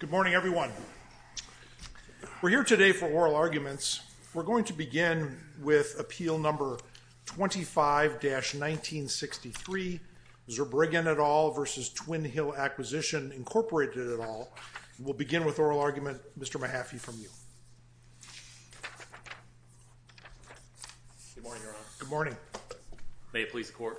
Good morning everyone. We're here today for oral arguments. We're going to begin with appeal number 25-1963 Zurbriggen et al. v. Twin Hill Acquisition, Incorporated et al. We'll begin with oral argument Mr. Mahaffey from you. Good morning. May it please the court.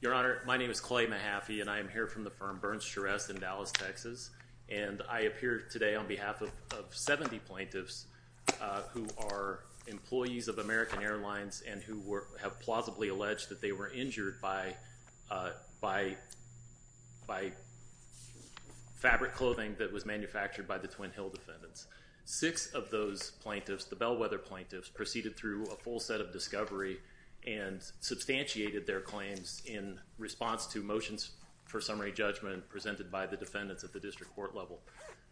Your Honor, my name is Clay Mahaffey and I am here from the firm Burns Charest in Dallas, Texas and I appear today on behalf of 70 plaintiffs who are employees of American Airlines and who have plausibly alleged that they were injured by fabric clothing that was manufactured by the Twin Hill defendants. Six of those plaintiffs, the Bellwether plaintiffs, proceeded through a full set of discovery and substantiated their claims in response to motions for summary judgment presented by the defendants at the district court level.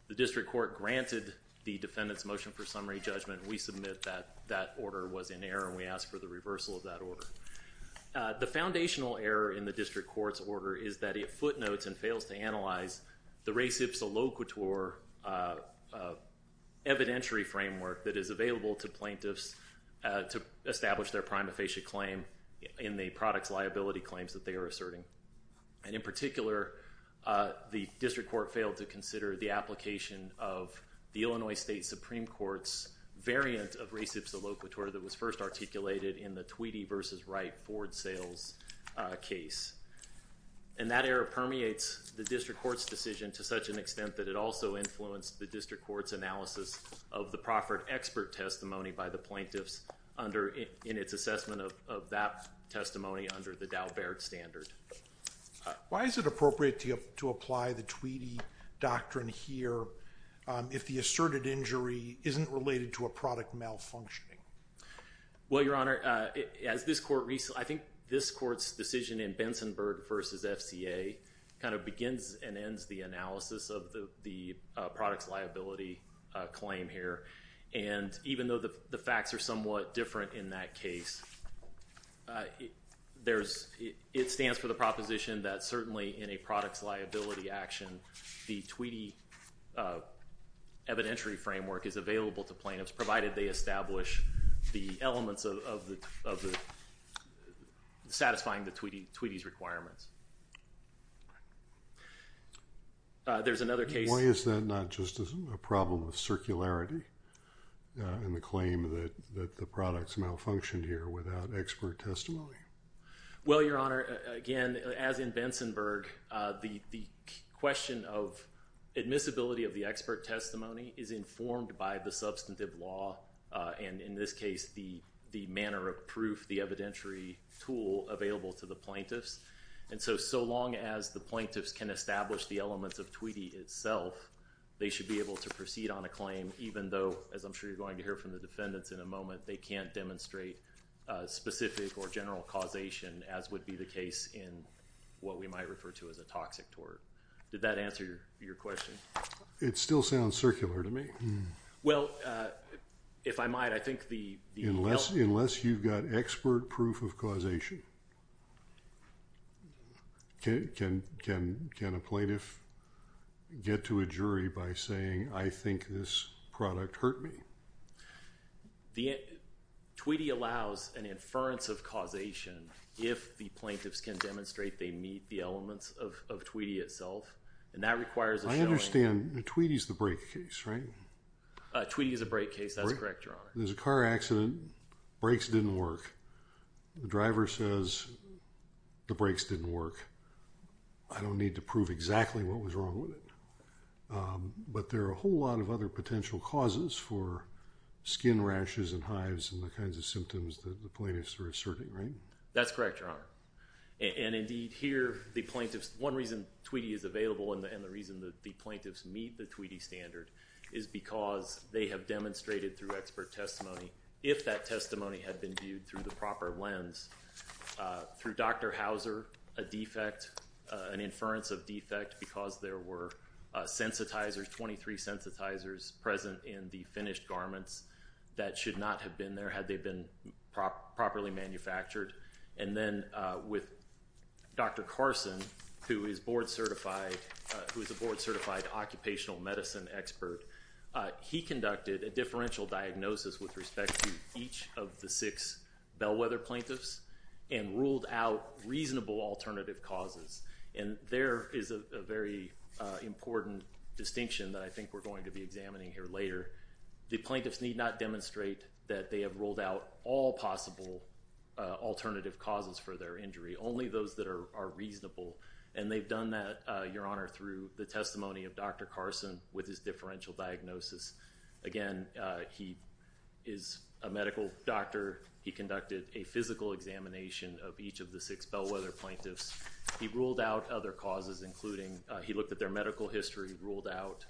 The district court granted the defendants motion for summary judgment. We submit that that order was in error and we ask for the reversal of that order. The foundational error in the district court's order is that it footnotes and fails to analyze the res ipsa loquitur evidentiary framework that is available to plaintiffs to establish their prima facie claim in the products liability claims that they are asserting. And in particular, the district court failed to consider the application of the Illinois State Supreme Court's variant of res ipsa loquitur that was first articulated in the Tweedy versus Wright Ford sales case. And that error permeates the district court's decision to such an extent that it also influenced the district court's analysis of the Proffert expert testimony by the plaintiffs under in its assessment of that testimony under the Dow Baird standard. Why is it appropriate to apply the Tweedy doctrine here if the asserted injury isn't related to a product malfunctioning? Well, your honor, as this court recently, I think this court's decision in Bensonburg versus FCA kind of begins and ends the analysis of the products liability claim here. And even though the facts are somewhat different in that case, there's, it stands for the proposition that certainly in a products liability action, the Tweedy evidentiary framework is available to plaintiffs provided they establish the elements of the satisfying the Tweedy's requirements. There's another case. Why is that not just as a problem with circularity in the claim that the products malfunctioned here without expert testimony? Well, your honor, again, as in Bensonburg, the question of admissibility of the expert testimony is informed by the substantive law and in this case the manner of proof, the evidentiary tool available to the plaintiffs. And so, so long as the plaintiffs can establish the elements of Tweedy itself, they should be able to proceed on a claim even though, as I'm sure you're going to hear from the defendants in a moment, they can't demonstrate specific or general causation as would be the case in what we might refer to as a toxic tort. Did that answer your question? It still sounds circular to me. Well, if I might, I think the... Unless you've got expert proof of causation, can a plaintiff get to a jury by saying I think this product hurt me? The Tweedy allows an inference of causation if the plaintiffs can demonstrate they meet the elements of Tweedy itself and that requires... I understand the Tweedy's the brake case, right? Tweedy is a brake case, that's correct, Your Honor. There's a car accident. Brakes didn't work. The driver says the brakes didn't work. I don't need to prove exactly what was wrong with it. But there are a whole lot of other potential causes for skin rashes and hives and the kinds of symptoms that the plaintiffs are asserting, right? That's correct, Your Honor. And indeed here, the plaintiffs... One reason Tweedy is available and the reason that the plaintiffs meet the Tweedy standard is because they have demonstrated through expert testimony, if that testimony had been viewed through the proper lens, through Dr. Hauser, a defect, an inference of defect because there were sensitizers, 23 sensitizers present in the finished garments that should not have been there had they been properly manufactured. And then with Dr. Carson, who is board certified, who is a board certified, he conducted a differential diagnosis with respect to each of the six Bellwether plaintiffs and ruled out reasonable alternative causes. And there is a very important distinction that I think we're going to be examining here later. The plaintiffs need not demonstrate that they have ruled out all possible alternative causes for their injury, only those that are reasonable. And they've done that, Your Honor, through the testimony of Dr. Carson with his differential diagnosis. Again, he is a medical doctor. He conducted a physical examination of each of the six Bellwether plaintiffs. He ruled out other causes, including he looked at their medical history, ruled out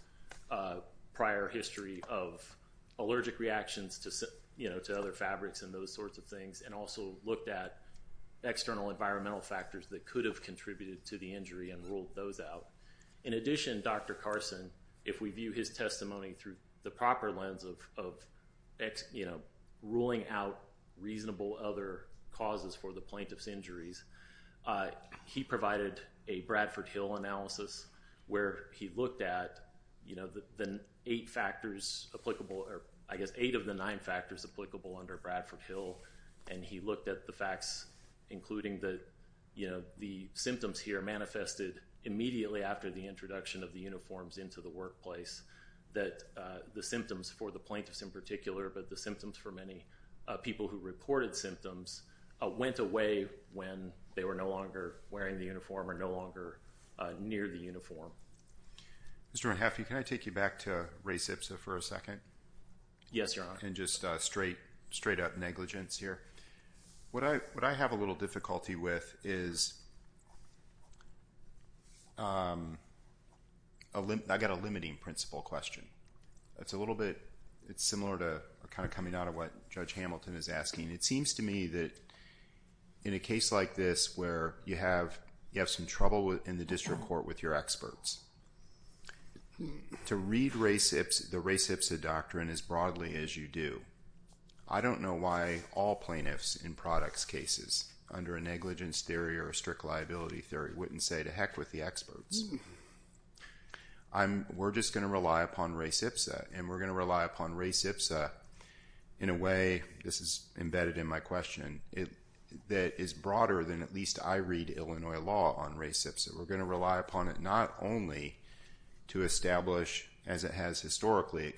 prior history of allergic reactions to, you know, to other fabrics and those sorts of things, and also looked at external environmental factors that could have contributed to the injury and ruled those out. In addition, Dr. Carson, if we view his testimony through the proper lens of, you know, ruling out reasonable other causes for the plaintiff's injuries, he provided a Bradford Hill analysis where he looked at, you know, the eight factors applicable, or I guess eight of the nine factors applicable under Bradford Hill, and he looked at the facts including that, you know, the symptoms here manifested immediately after the introduction of the uniforms into the workplace, that the symptoms for the plaintiffs in particular, but the symptoms for many people who reported symptoms, went away when they were no longer wearing the uniform or no longer near the uniform. Mr. Renhaffi, can I take you back to race ipsa for a second? Yes, Your Honor. And just straight up negligence here. What I have a little difficulty with is, I've got a limiting principle question. It's a little bit, it's similar to kind of coming out of what Judge Hamilton is asking. It seems to me that in a case like this where you have, you have some trouble in the district court with your experts. To read race ipsa, the race ipsa doctrine as broadly as you do. I don't know why all plaintiffs in products cases under a negligence theory or a strict liability theory wouldn't say to heck with the experts. We're just going to rely upon race ipsa, and we're going to rely upon race ipsa in a way, this is embedded in my question, that is broader than at least I read Illinois law on race ipsa. We're going to rely upon it not only to establish, as it has historically, a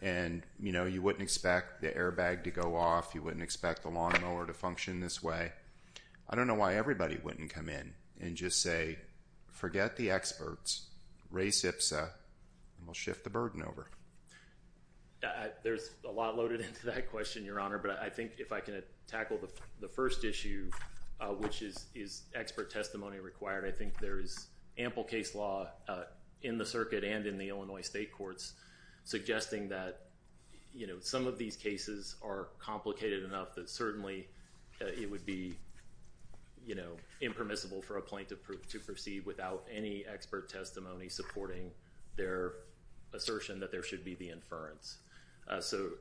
And, you know, you wouldn't expect the airbag to go off. You wouldn't expect the lawnmower to function this way. I don't know why everybody wouldn't come in and just say, forget the experts, race ipsa, and we'll shift the burden over. There's a lot loaded into that question, Your Honor, but I think if I can tackle the first issue, which is, is expert testimony required, I think there is ample case law in the circuit and in the Illinois state courts suggesting that, you know, some of these cases are complicated enough that certainly it would be, you know, impermissible for a plaintiff to proceed without any expert testimony supporting their assertion that there should be the inference. So,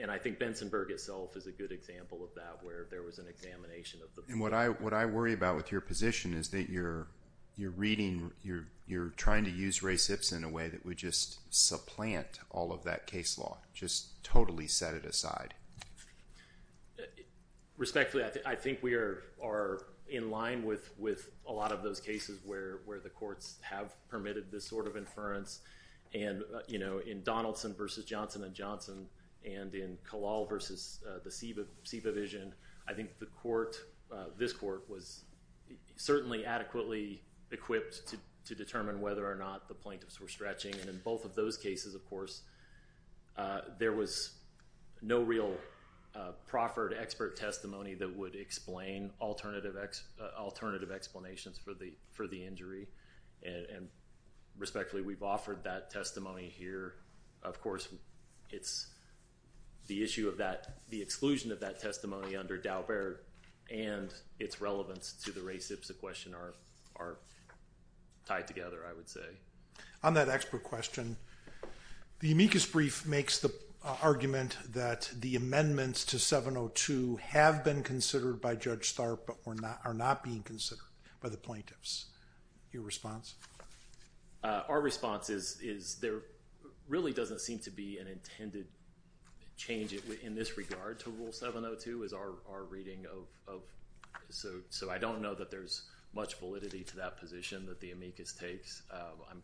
and I think Bensonburg itself is a good example of that, where there was an examination of the. And what I, what I worry about with your position is that you're, you're reading, you're, you're trying to use race ipsa in a way that would just supplant all of that case law, just totally set it aside. Respectfully, I think we are, are in line with, with a lot of those cases where, where the courts have permitted this sort of inference. And, you know, in Donaldson versus Johnson and Johnson, and in Kalal versus the Seva, Seva was certainly adequately equipped to, to determine whether or not the plaintiffs were stretching. And in both of those cases, of course, there was no real proffered expert testimony that would explain alternative, alternative explanations for the, for the injury. And respectfully, we've offered that testimony here. Of course, it's the issue of that, the exclusion of that testimony under Daubert and its relevance to the race ipsa question are, are tied together, I would say. On that expert question, the amicus brief makes the argument that the amendments to 702 have been considered by Judge Tharp, but were not, are not being considered by the plaintiffs. Your response? Our response is, is there really doesn't seem to be an intended change in this regard to Rule 702 is our, our reading of, of, so, so I don't know that there's much validity to that position that the amicus takes. I'm,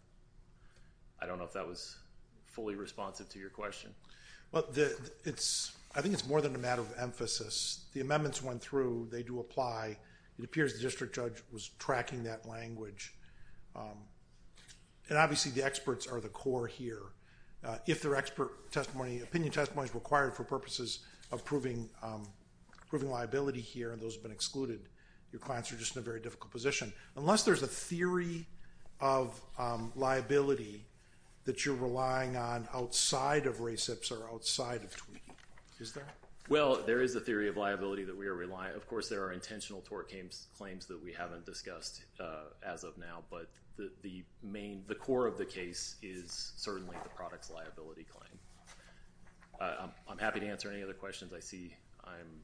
I don't know if that was fully responsive to your question. Well, the, it's, I think it's more than a matter of emphasis. The amendments went through, they do apply. It appears the district judge was tracking that language. And obviously, the experts are the core here. If their expert testimony, opinion testimony is required for purposes of proving, proving liability here, and those have been excluded, your clients are just in a very difficult position. Unless there's a theory of liability that you're relying on outside of race ipsa or outside of tweaking, is there? Well, there is a theory of liability that we are relying, of course there are intentional tort claims that we haven't discussed as of now, but the main, the core of the case is certainly the product's liability claim. I'm happy to answer any other questions. I see I'm.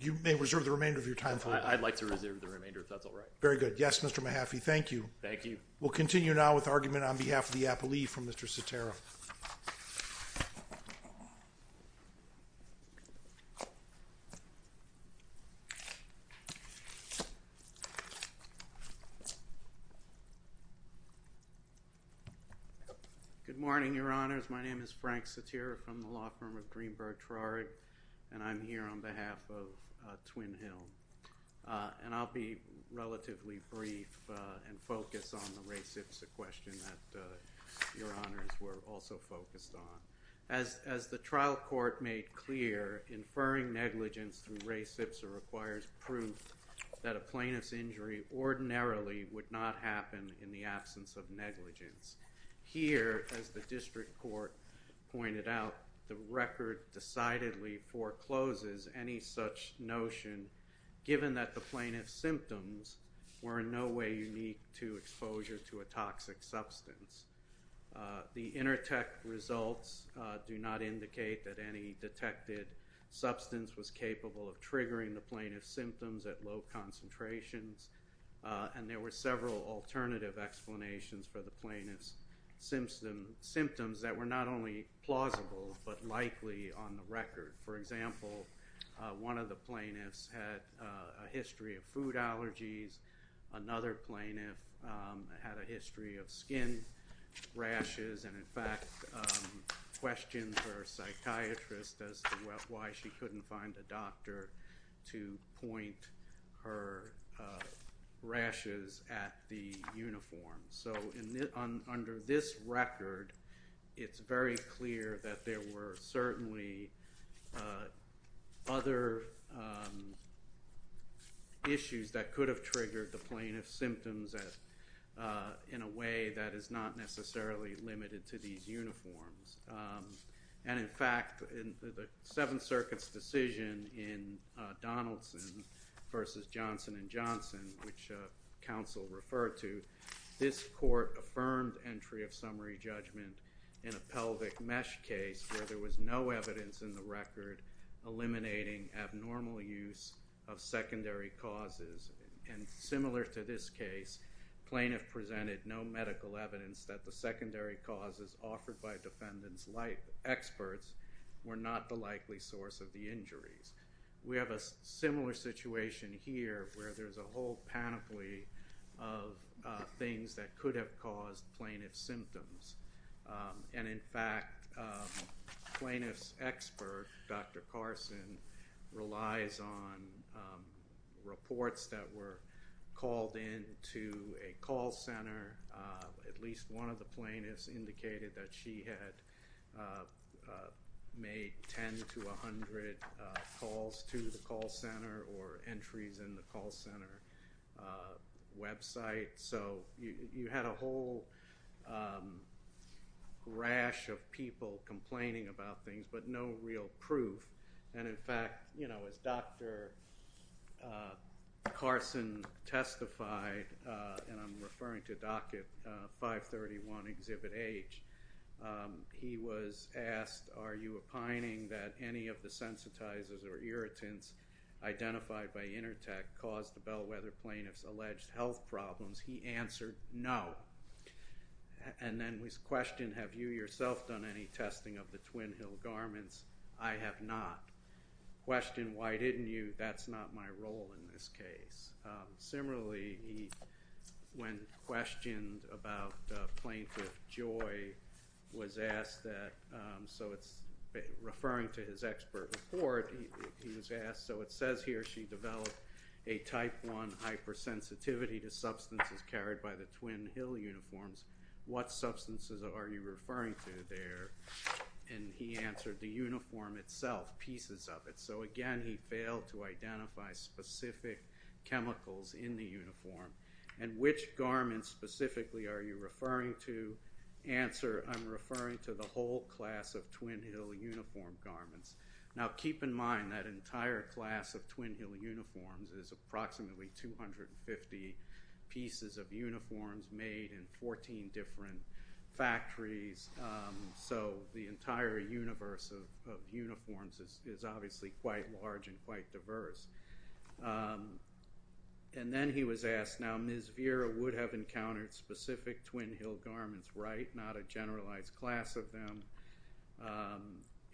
You may reserve the remainder of your time for it. I'd like to reserve the remainder if that's all right. Very good. Yes, Mr. Mahaffey, thank you. Thank you. We'll continue now with argument on behalf of the appellee from Mr. Greenberg-Trarick, and I'm here on behalf of Twin Hill. And I'll be relatively brief and focus on the race ipsa question that your honors were also focused on. As the trial court made clear, inferring negligence through race ipsa requires proof that a plaintiff's injury ordinarily would not happen in the absence of negligence. Here, as the district court pointed out, the record decidedly forecloses any such notion given that the plaintiff's symptoms were in no way unique to exposure to a toxic substance. The intertect results do not indicate that any detected substance was capable of triggering the plaintiff's symptoms at low concentrations, and there were several alternative explanations for the plaintiff's symptoms that were not only plausible but likely on the record. For example, one of the plaintiffs had a history of food allergies, another plaintiff had a history of skin rashes, and in fact questioned her psychiatrist as to why she couldn't find a doctor to point her rashes at the uniform. So under this record, it's very clear that there were certainly other issues that could have triggered the plaintiff's symptoms in a way that is not necessarily limited to these uniforms. And in fact, in the Seventh Circuit's decision in Donaldson versus Johnson and Johnson, which counsel referred to, this court affirmed entry of summary judgment in a pelvic mesh case where there was no evidence in the record eliminating abnormal use of secondary causes. And similar to this case, plaintiff presented no medical evidence that the secondary causes offered by defendants' life experts were not the likely source of the injuries. We have a similar situation here where there's a whole panoply of things that could have caused plaintiff's symptoms. And in fact, plaintiff's expert, Dr. Carson, relies on reports that were called in to a call center. At least one of the plaintiffs indicated that she had made ten to a hundred calls to the call center or entries in the call center website. So you had a whole rash of people complaining about things but no real proof. And in fact, you know, as Dr. Carson testified, and I'm referring to docket 531 exhibit H, he was asked, are you opining that any of the sensitizers or irritants identified by Intertec caused the bellwether plaintiff's alleged health problems? He answered no. And then was questioned, have you yourself done any testing of the Twin Hill garments? I have not. Questioned, why didn't you? That's not my role in this case. Similarly, when questioned about Plaintiff Joy, was asked that, so it's referring to his expert report, he was asked, so it says here she developed a type 1 hypersensitivity to substances carried by the Twin Hill uniforms. What substances are you referring to there? And he answered the uniform itself, pieces of it. So again, he failed to identify specific chemicals in the uniform. And which garments specifically are you referring to? Answer, I'm referring to the whole class of Twin Hill uniform garments. Now keep in mind that entire class of Twin Hill uniforms is approximately 250 pieces of uniforms made in 14 different factories. So the entire universe of uniforms is obviously quite large and quite diverse. And then he was asked, now Ms. Vera would have encountered specific Twin Hill garments, right? Not a generalized class of them.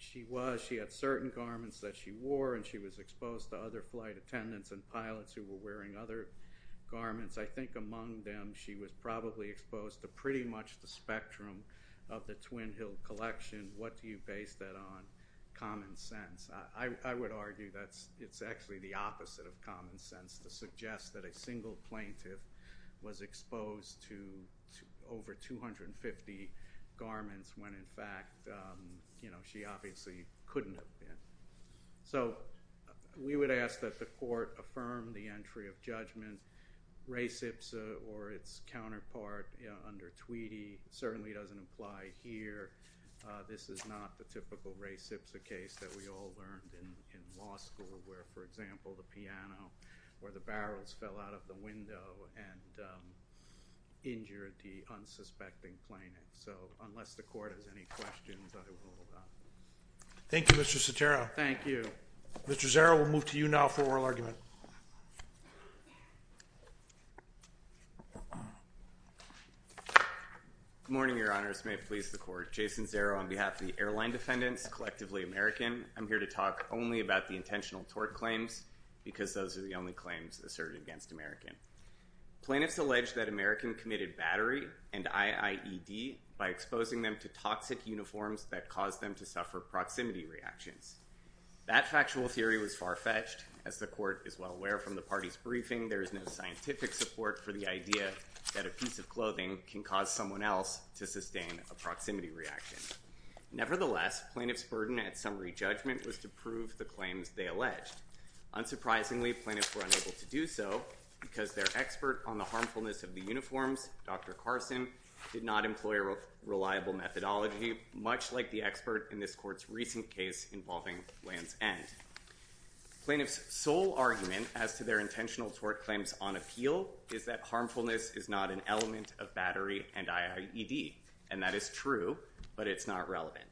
She was, she had certain garments that she wore and she was exposed to other flight attendants and pilots who were wearing other garments. I think among them she was probably exposed to pretty much the spectrum of the Twin Hill collection. What do you base that on? Common sense. I would argue that it's actually the opposite of common sense to suggest that a single plaintiff was exposed to over 250 garments when in fact, you know, she obviously couldn't have been. So we would ask that the court affirm the entry of judgment. Ray Sipsa or its counterpart under Tweedy certainly doesn't apply here. This is not the typical Ray Sipsa case that we all learned in law school where, for example, the piano or the barrels fell out of the window and injured the unsuspecting plaintiff. So unless the court has any questions, I will hold up. Thank you, Mr. Sotero. Thank you. Mr. Zerro, we'll move to you now for oral argument. Good morning, your honors. May it please the court. Jason Zerro on behalf of the airline defendants, collectively American. I'm here to talk only about the intentional tort claims because those are the only claims asserted against American. Plaintiffs allege that American committed battery and IIED by exposing them to toxic uniforms that caused them to suffer proximity reactions. That factual theory was far-fetched. As the court is well aware from the party's briefing, there is no scientific support for the idea that a piece of clothing can cause someone else to sustain a proximity reaction. Nevertheless, plaintiffs' burden at summary judgment was to prove the claims they alleged. Unsurprisingly, plaintiffs were unable to do so because their expert on the harmfulness of the uniforms, Dr. Carson, did not employ a reliable methodology, much like the expert in this court's recent case involving Lance End. Plaintiffs' sole argument as to their intentional tort claims on appeal is that harmfulness is not an element of battery and IIED. And that is true, but it's not relevant.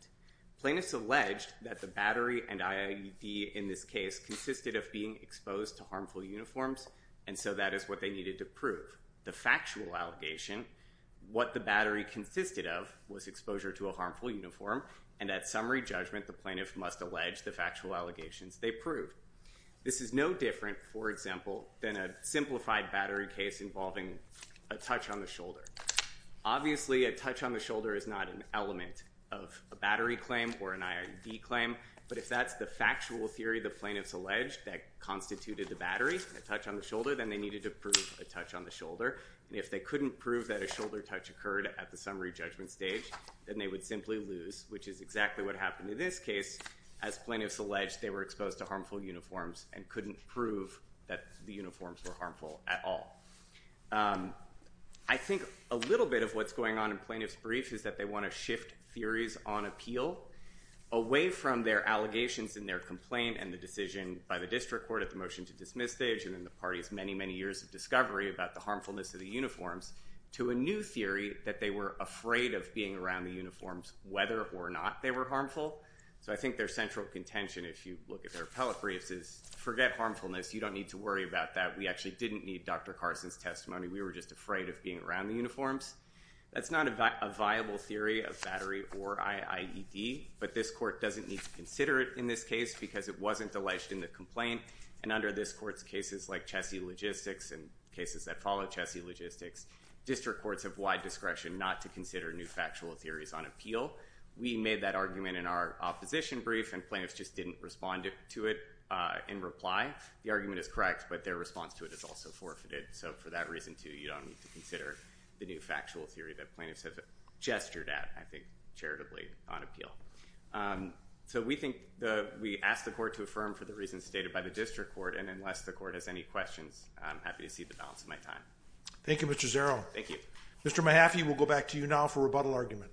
Plaintiffs alleged that the battery and IIED in this case consisted of being exposed to harmful uniforms, and so that is what they needed to prove. The factual allegation, what the battery consisted of, was exposure to a harmful uniform, and at summary judgment the plaintiff must allege the factual allegations they proved. This is no different, for example, than a simplified battery case involving a touch on the shoulder. Obviously, a touch on the shoulder is not an element of a battery claim or an IIED claim, but if that's the factual theory the plaintiffs alleged that constituted the battery, a touch on the shoulder, then they needed to prove a touch on the shoulder. And if they couldn't prove that a shoulder touch occurred at the summary judgment stage, then they would simply lose, which is exactly what happened in this case. As plaintiffs alleged, they were exposed to harmful uniforms and couldn't prove that the uniforms were harmful at all. I think a little bit of what's going on in plaintiffs' brief is that they want to shift theories on appeal away from their allegations in their complaint and the decision by the district court at the decision-to-dismiss stage, and then the party's many, many years of discovery about the harmfulness of the uniforms, to a new theory that they were afraid of being around the uniforms whether or not they were harmful. So I think their central contention, if you look at their appellate briefs, is forget harmfulness, you don't need to worry about that, we actually didn't need Dr. Carson's testimony, we were just afraid of being around the uniforms. That's not a viable theory of battery or IIED, but this court doesn't need to consider it in this case because it wasn't alleged in the complaint, and under this court's cases like Chessie Logistics and cases that follow Chessie Logistics, district courts have wide discretion not to consider new factual theories on appeal. We made that argument in our opposition brief and plaintiffs just didn't respond to it in reply. The argument is correct, but their response to it is also forfeited, so for that reason, too, you don't need to consider the new factual theory that plaintiffs have gestured at, I think, charitably on appeal. So we think we asked the court to affirm for the reasons stated by the district court, and unless the court has any questions, I'm happy to see the balance of my time. Thank you, Mr. Zero. Thank you. Mr. Mahaffey, we'll go back to you now for rebuttal argument.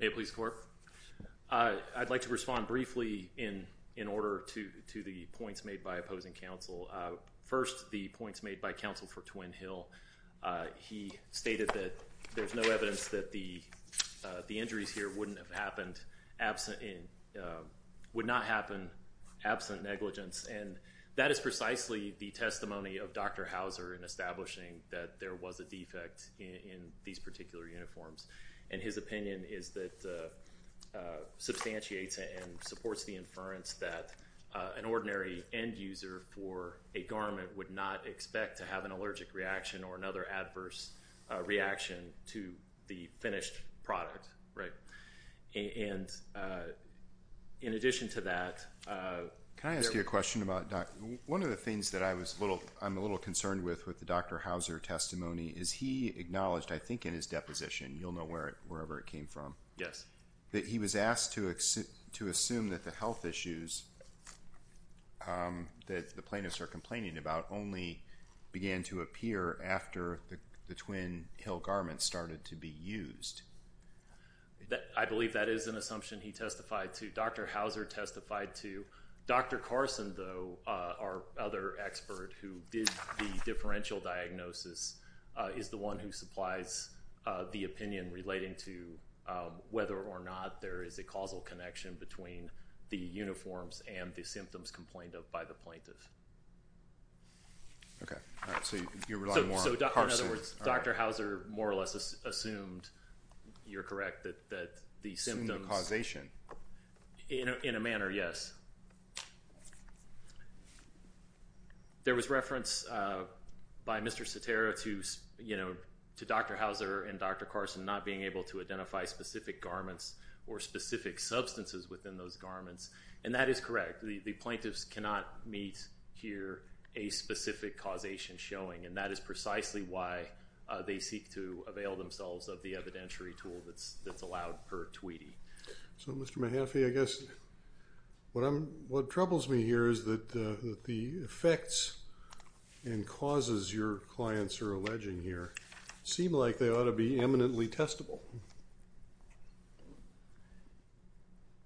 May it please the court. I'd like to respond briefly in order to the points made by opposing counsel. First, the points made by counsel for Twin Hill. He stated that there's no evidence that the injuries here wouldn't have happened absent, would not happen absent negligence, and that is precisely the testimony of Dr. Hauser in establishing that there was a defect in these particular uniforms, and his opinion is that substantiates and supports the inference that an ordinary end-user for a garment would not expect to have an allergic reaction or another adverse reaction to the finished product, right? And in addition to that... Can I ask you a question about... One of the things I'm a little concerned with with the Dr. Hauser testimony is he acknowledged, I think in his deposition, you'll know where it wherever it came from, that he was asked to assume that the health issues that the plaintiffs are complaining about only began to appear after the Twin Hill garments started to be used. I believe that is an assumption he testified to. Dr. Hauser testified to. Dr. Carson, though, our other expert who did the differential diagnosis, is the one who supplies the opinion relating to whether or not there is a causal connection between the uniforms and the symptoms complained of by the plaintiff. Okay, so you're relying more on Carson. So, in other words, Dr. Hauser more or less assumed, you're correct, that the symptoms... Assumed the causation. In a manner, yes. There was reference by Mr. Sotero to, you know, to Dr. Hauser and Dr. Carson not being able to identify specific garments or specific substances within those garments, and that is correct. The plaintiffs cannot meet here a specific causation showing, and that is precisely why they seek to avail themselves of the evidentiary tool that's that's allowed per Tweety. So, Mr. Mahaffey, I guess what troubles me here is that the effects and causes your clients are alleging here seem like they ought to be eminently testable,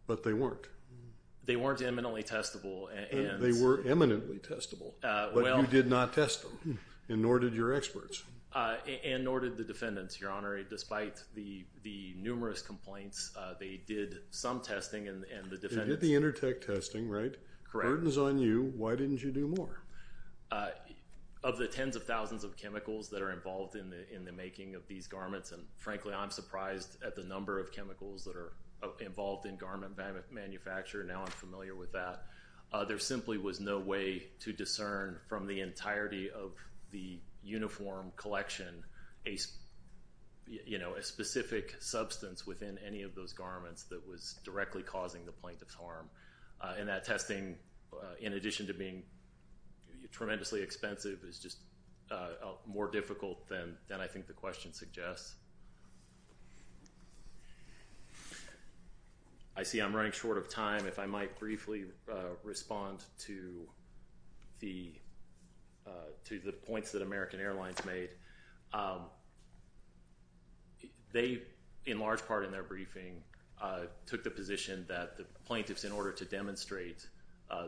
but they weren't. They weren't eminently testable. They were eminently testable, but you did not test them, and nor did your experts. And nor did the defendants, Your Honor. Despite the numerous complaints, they did some testing and the defendants... They did the inter-tech testing, right? Correct. The burden's on you. Why didn't you do more? Of the tens of thousands of chemicals that are involved in the making of these garments, and frankly, I'm surprised at the number of chemicals that are involved in garment manufacture. Now I'm familiar with that. There simply was no way to discern from the entirety of the uniform collection a, you know, a specific substance within any of those garments that was directly causing the plaintiff's harm. And that testing, in addition to being tremendously expensive, is just more difficult than I think the question suggests. I see I'm running short of time. If I might briefly respond to the points that American Airlines made. They, in large part in their briefing, took the position that the plaintiffs, in order to demonstrate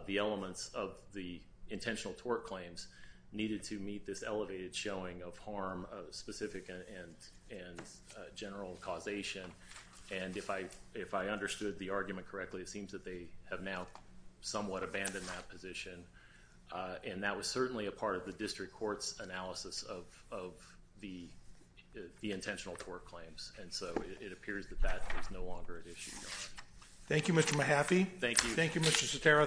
the elements of the intentional tort claims, needed to meet this elevated showing of harm, specific and general causation. And if I understood the argument correctly, it seems that they have now somewhat abandoned that position. And that was certainly a part of the district court's analysis of the intentional tort claims. And so it appears that that is no longer an issue. Thank you, Mr. Mahaffey. Thank you. Thank you, Mr. Sotero. Thank you.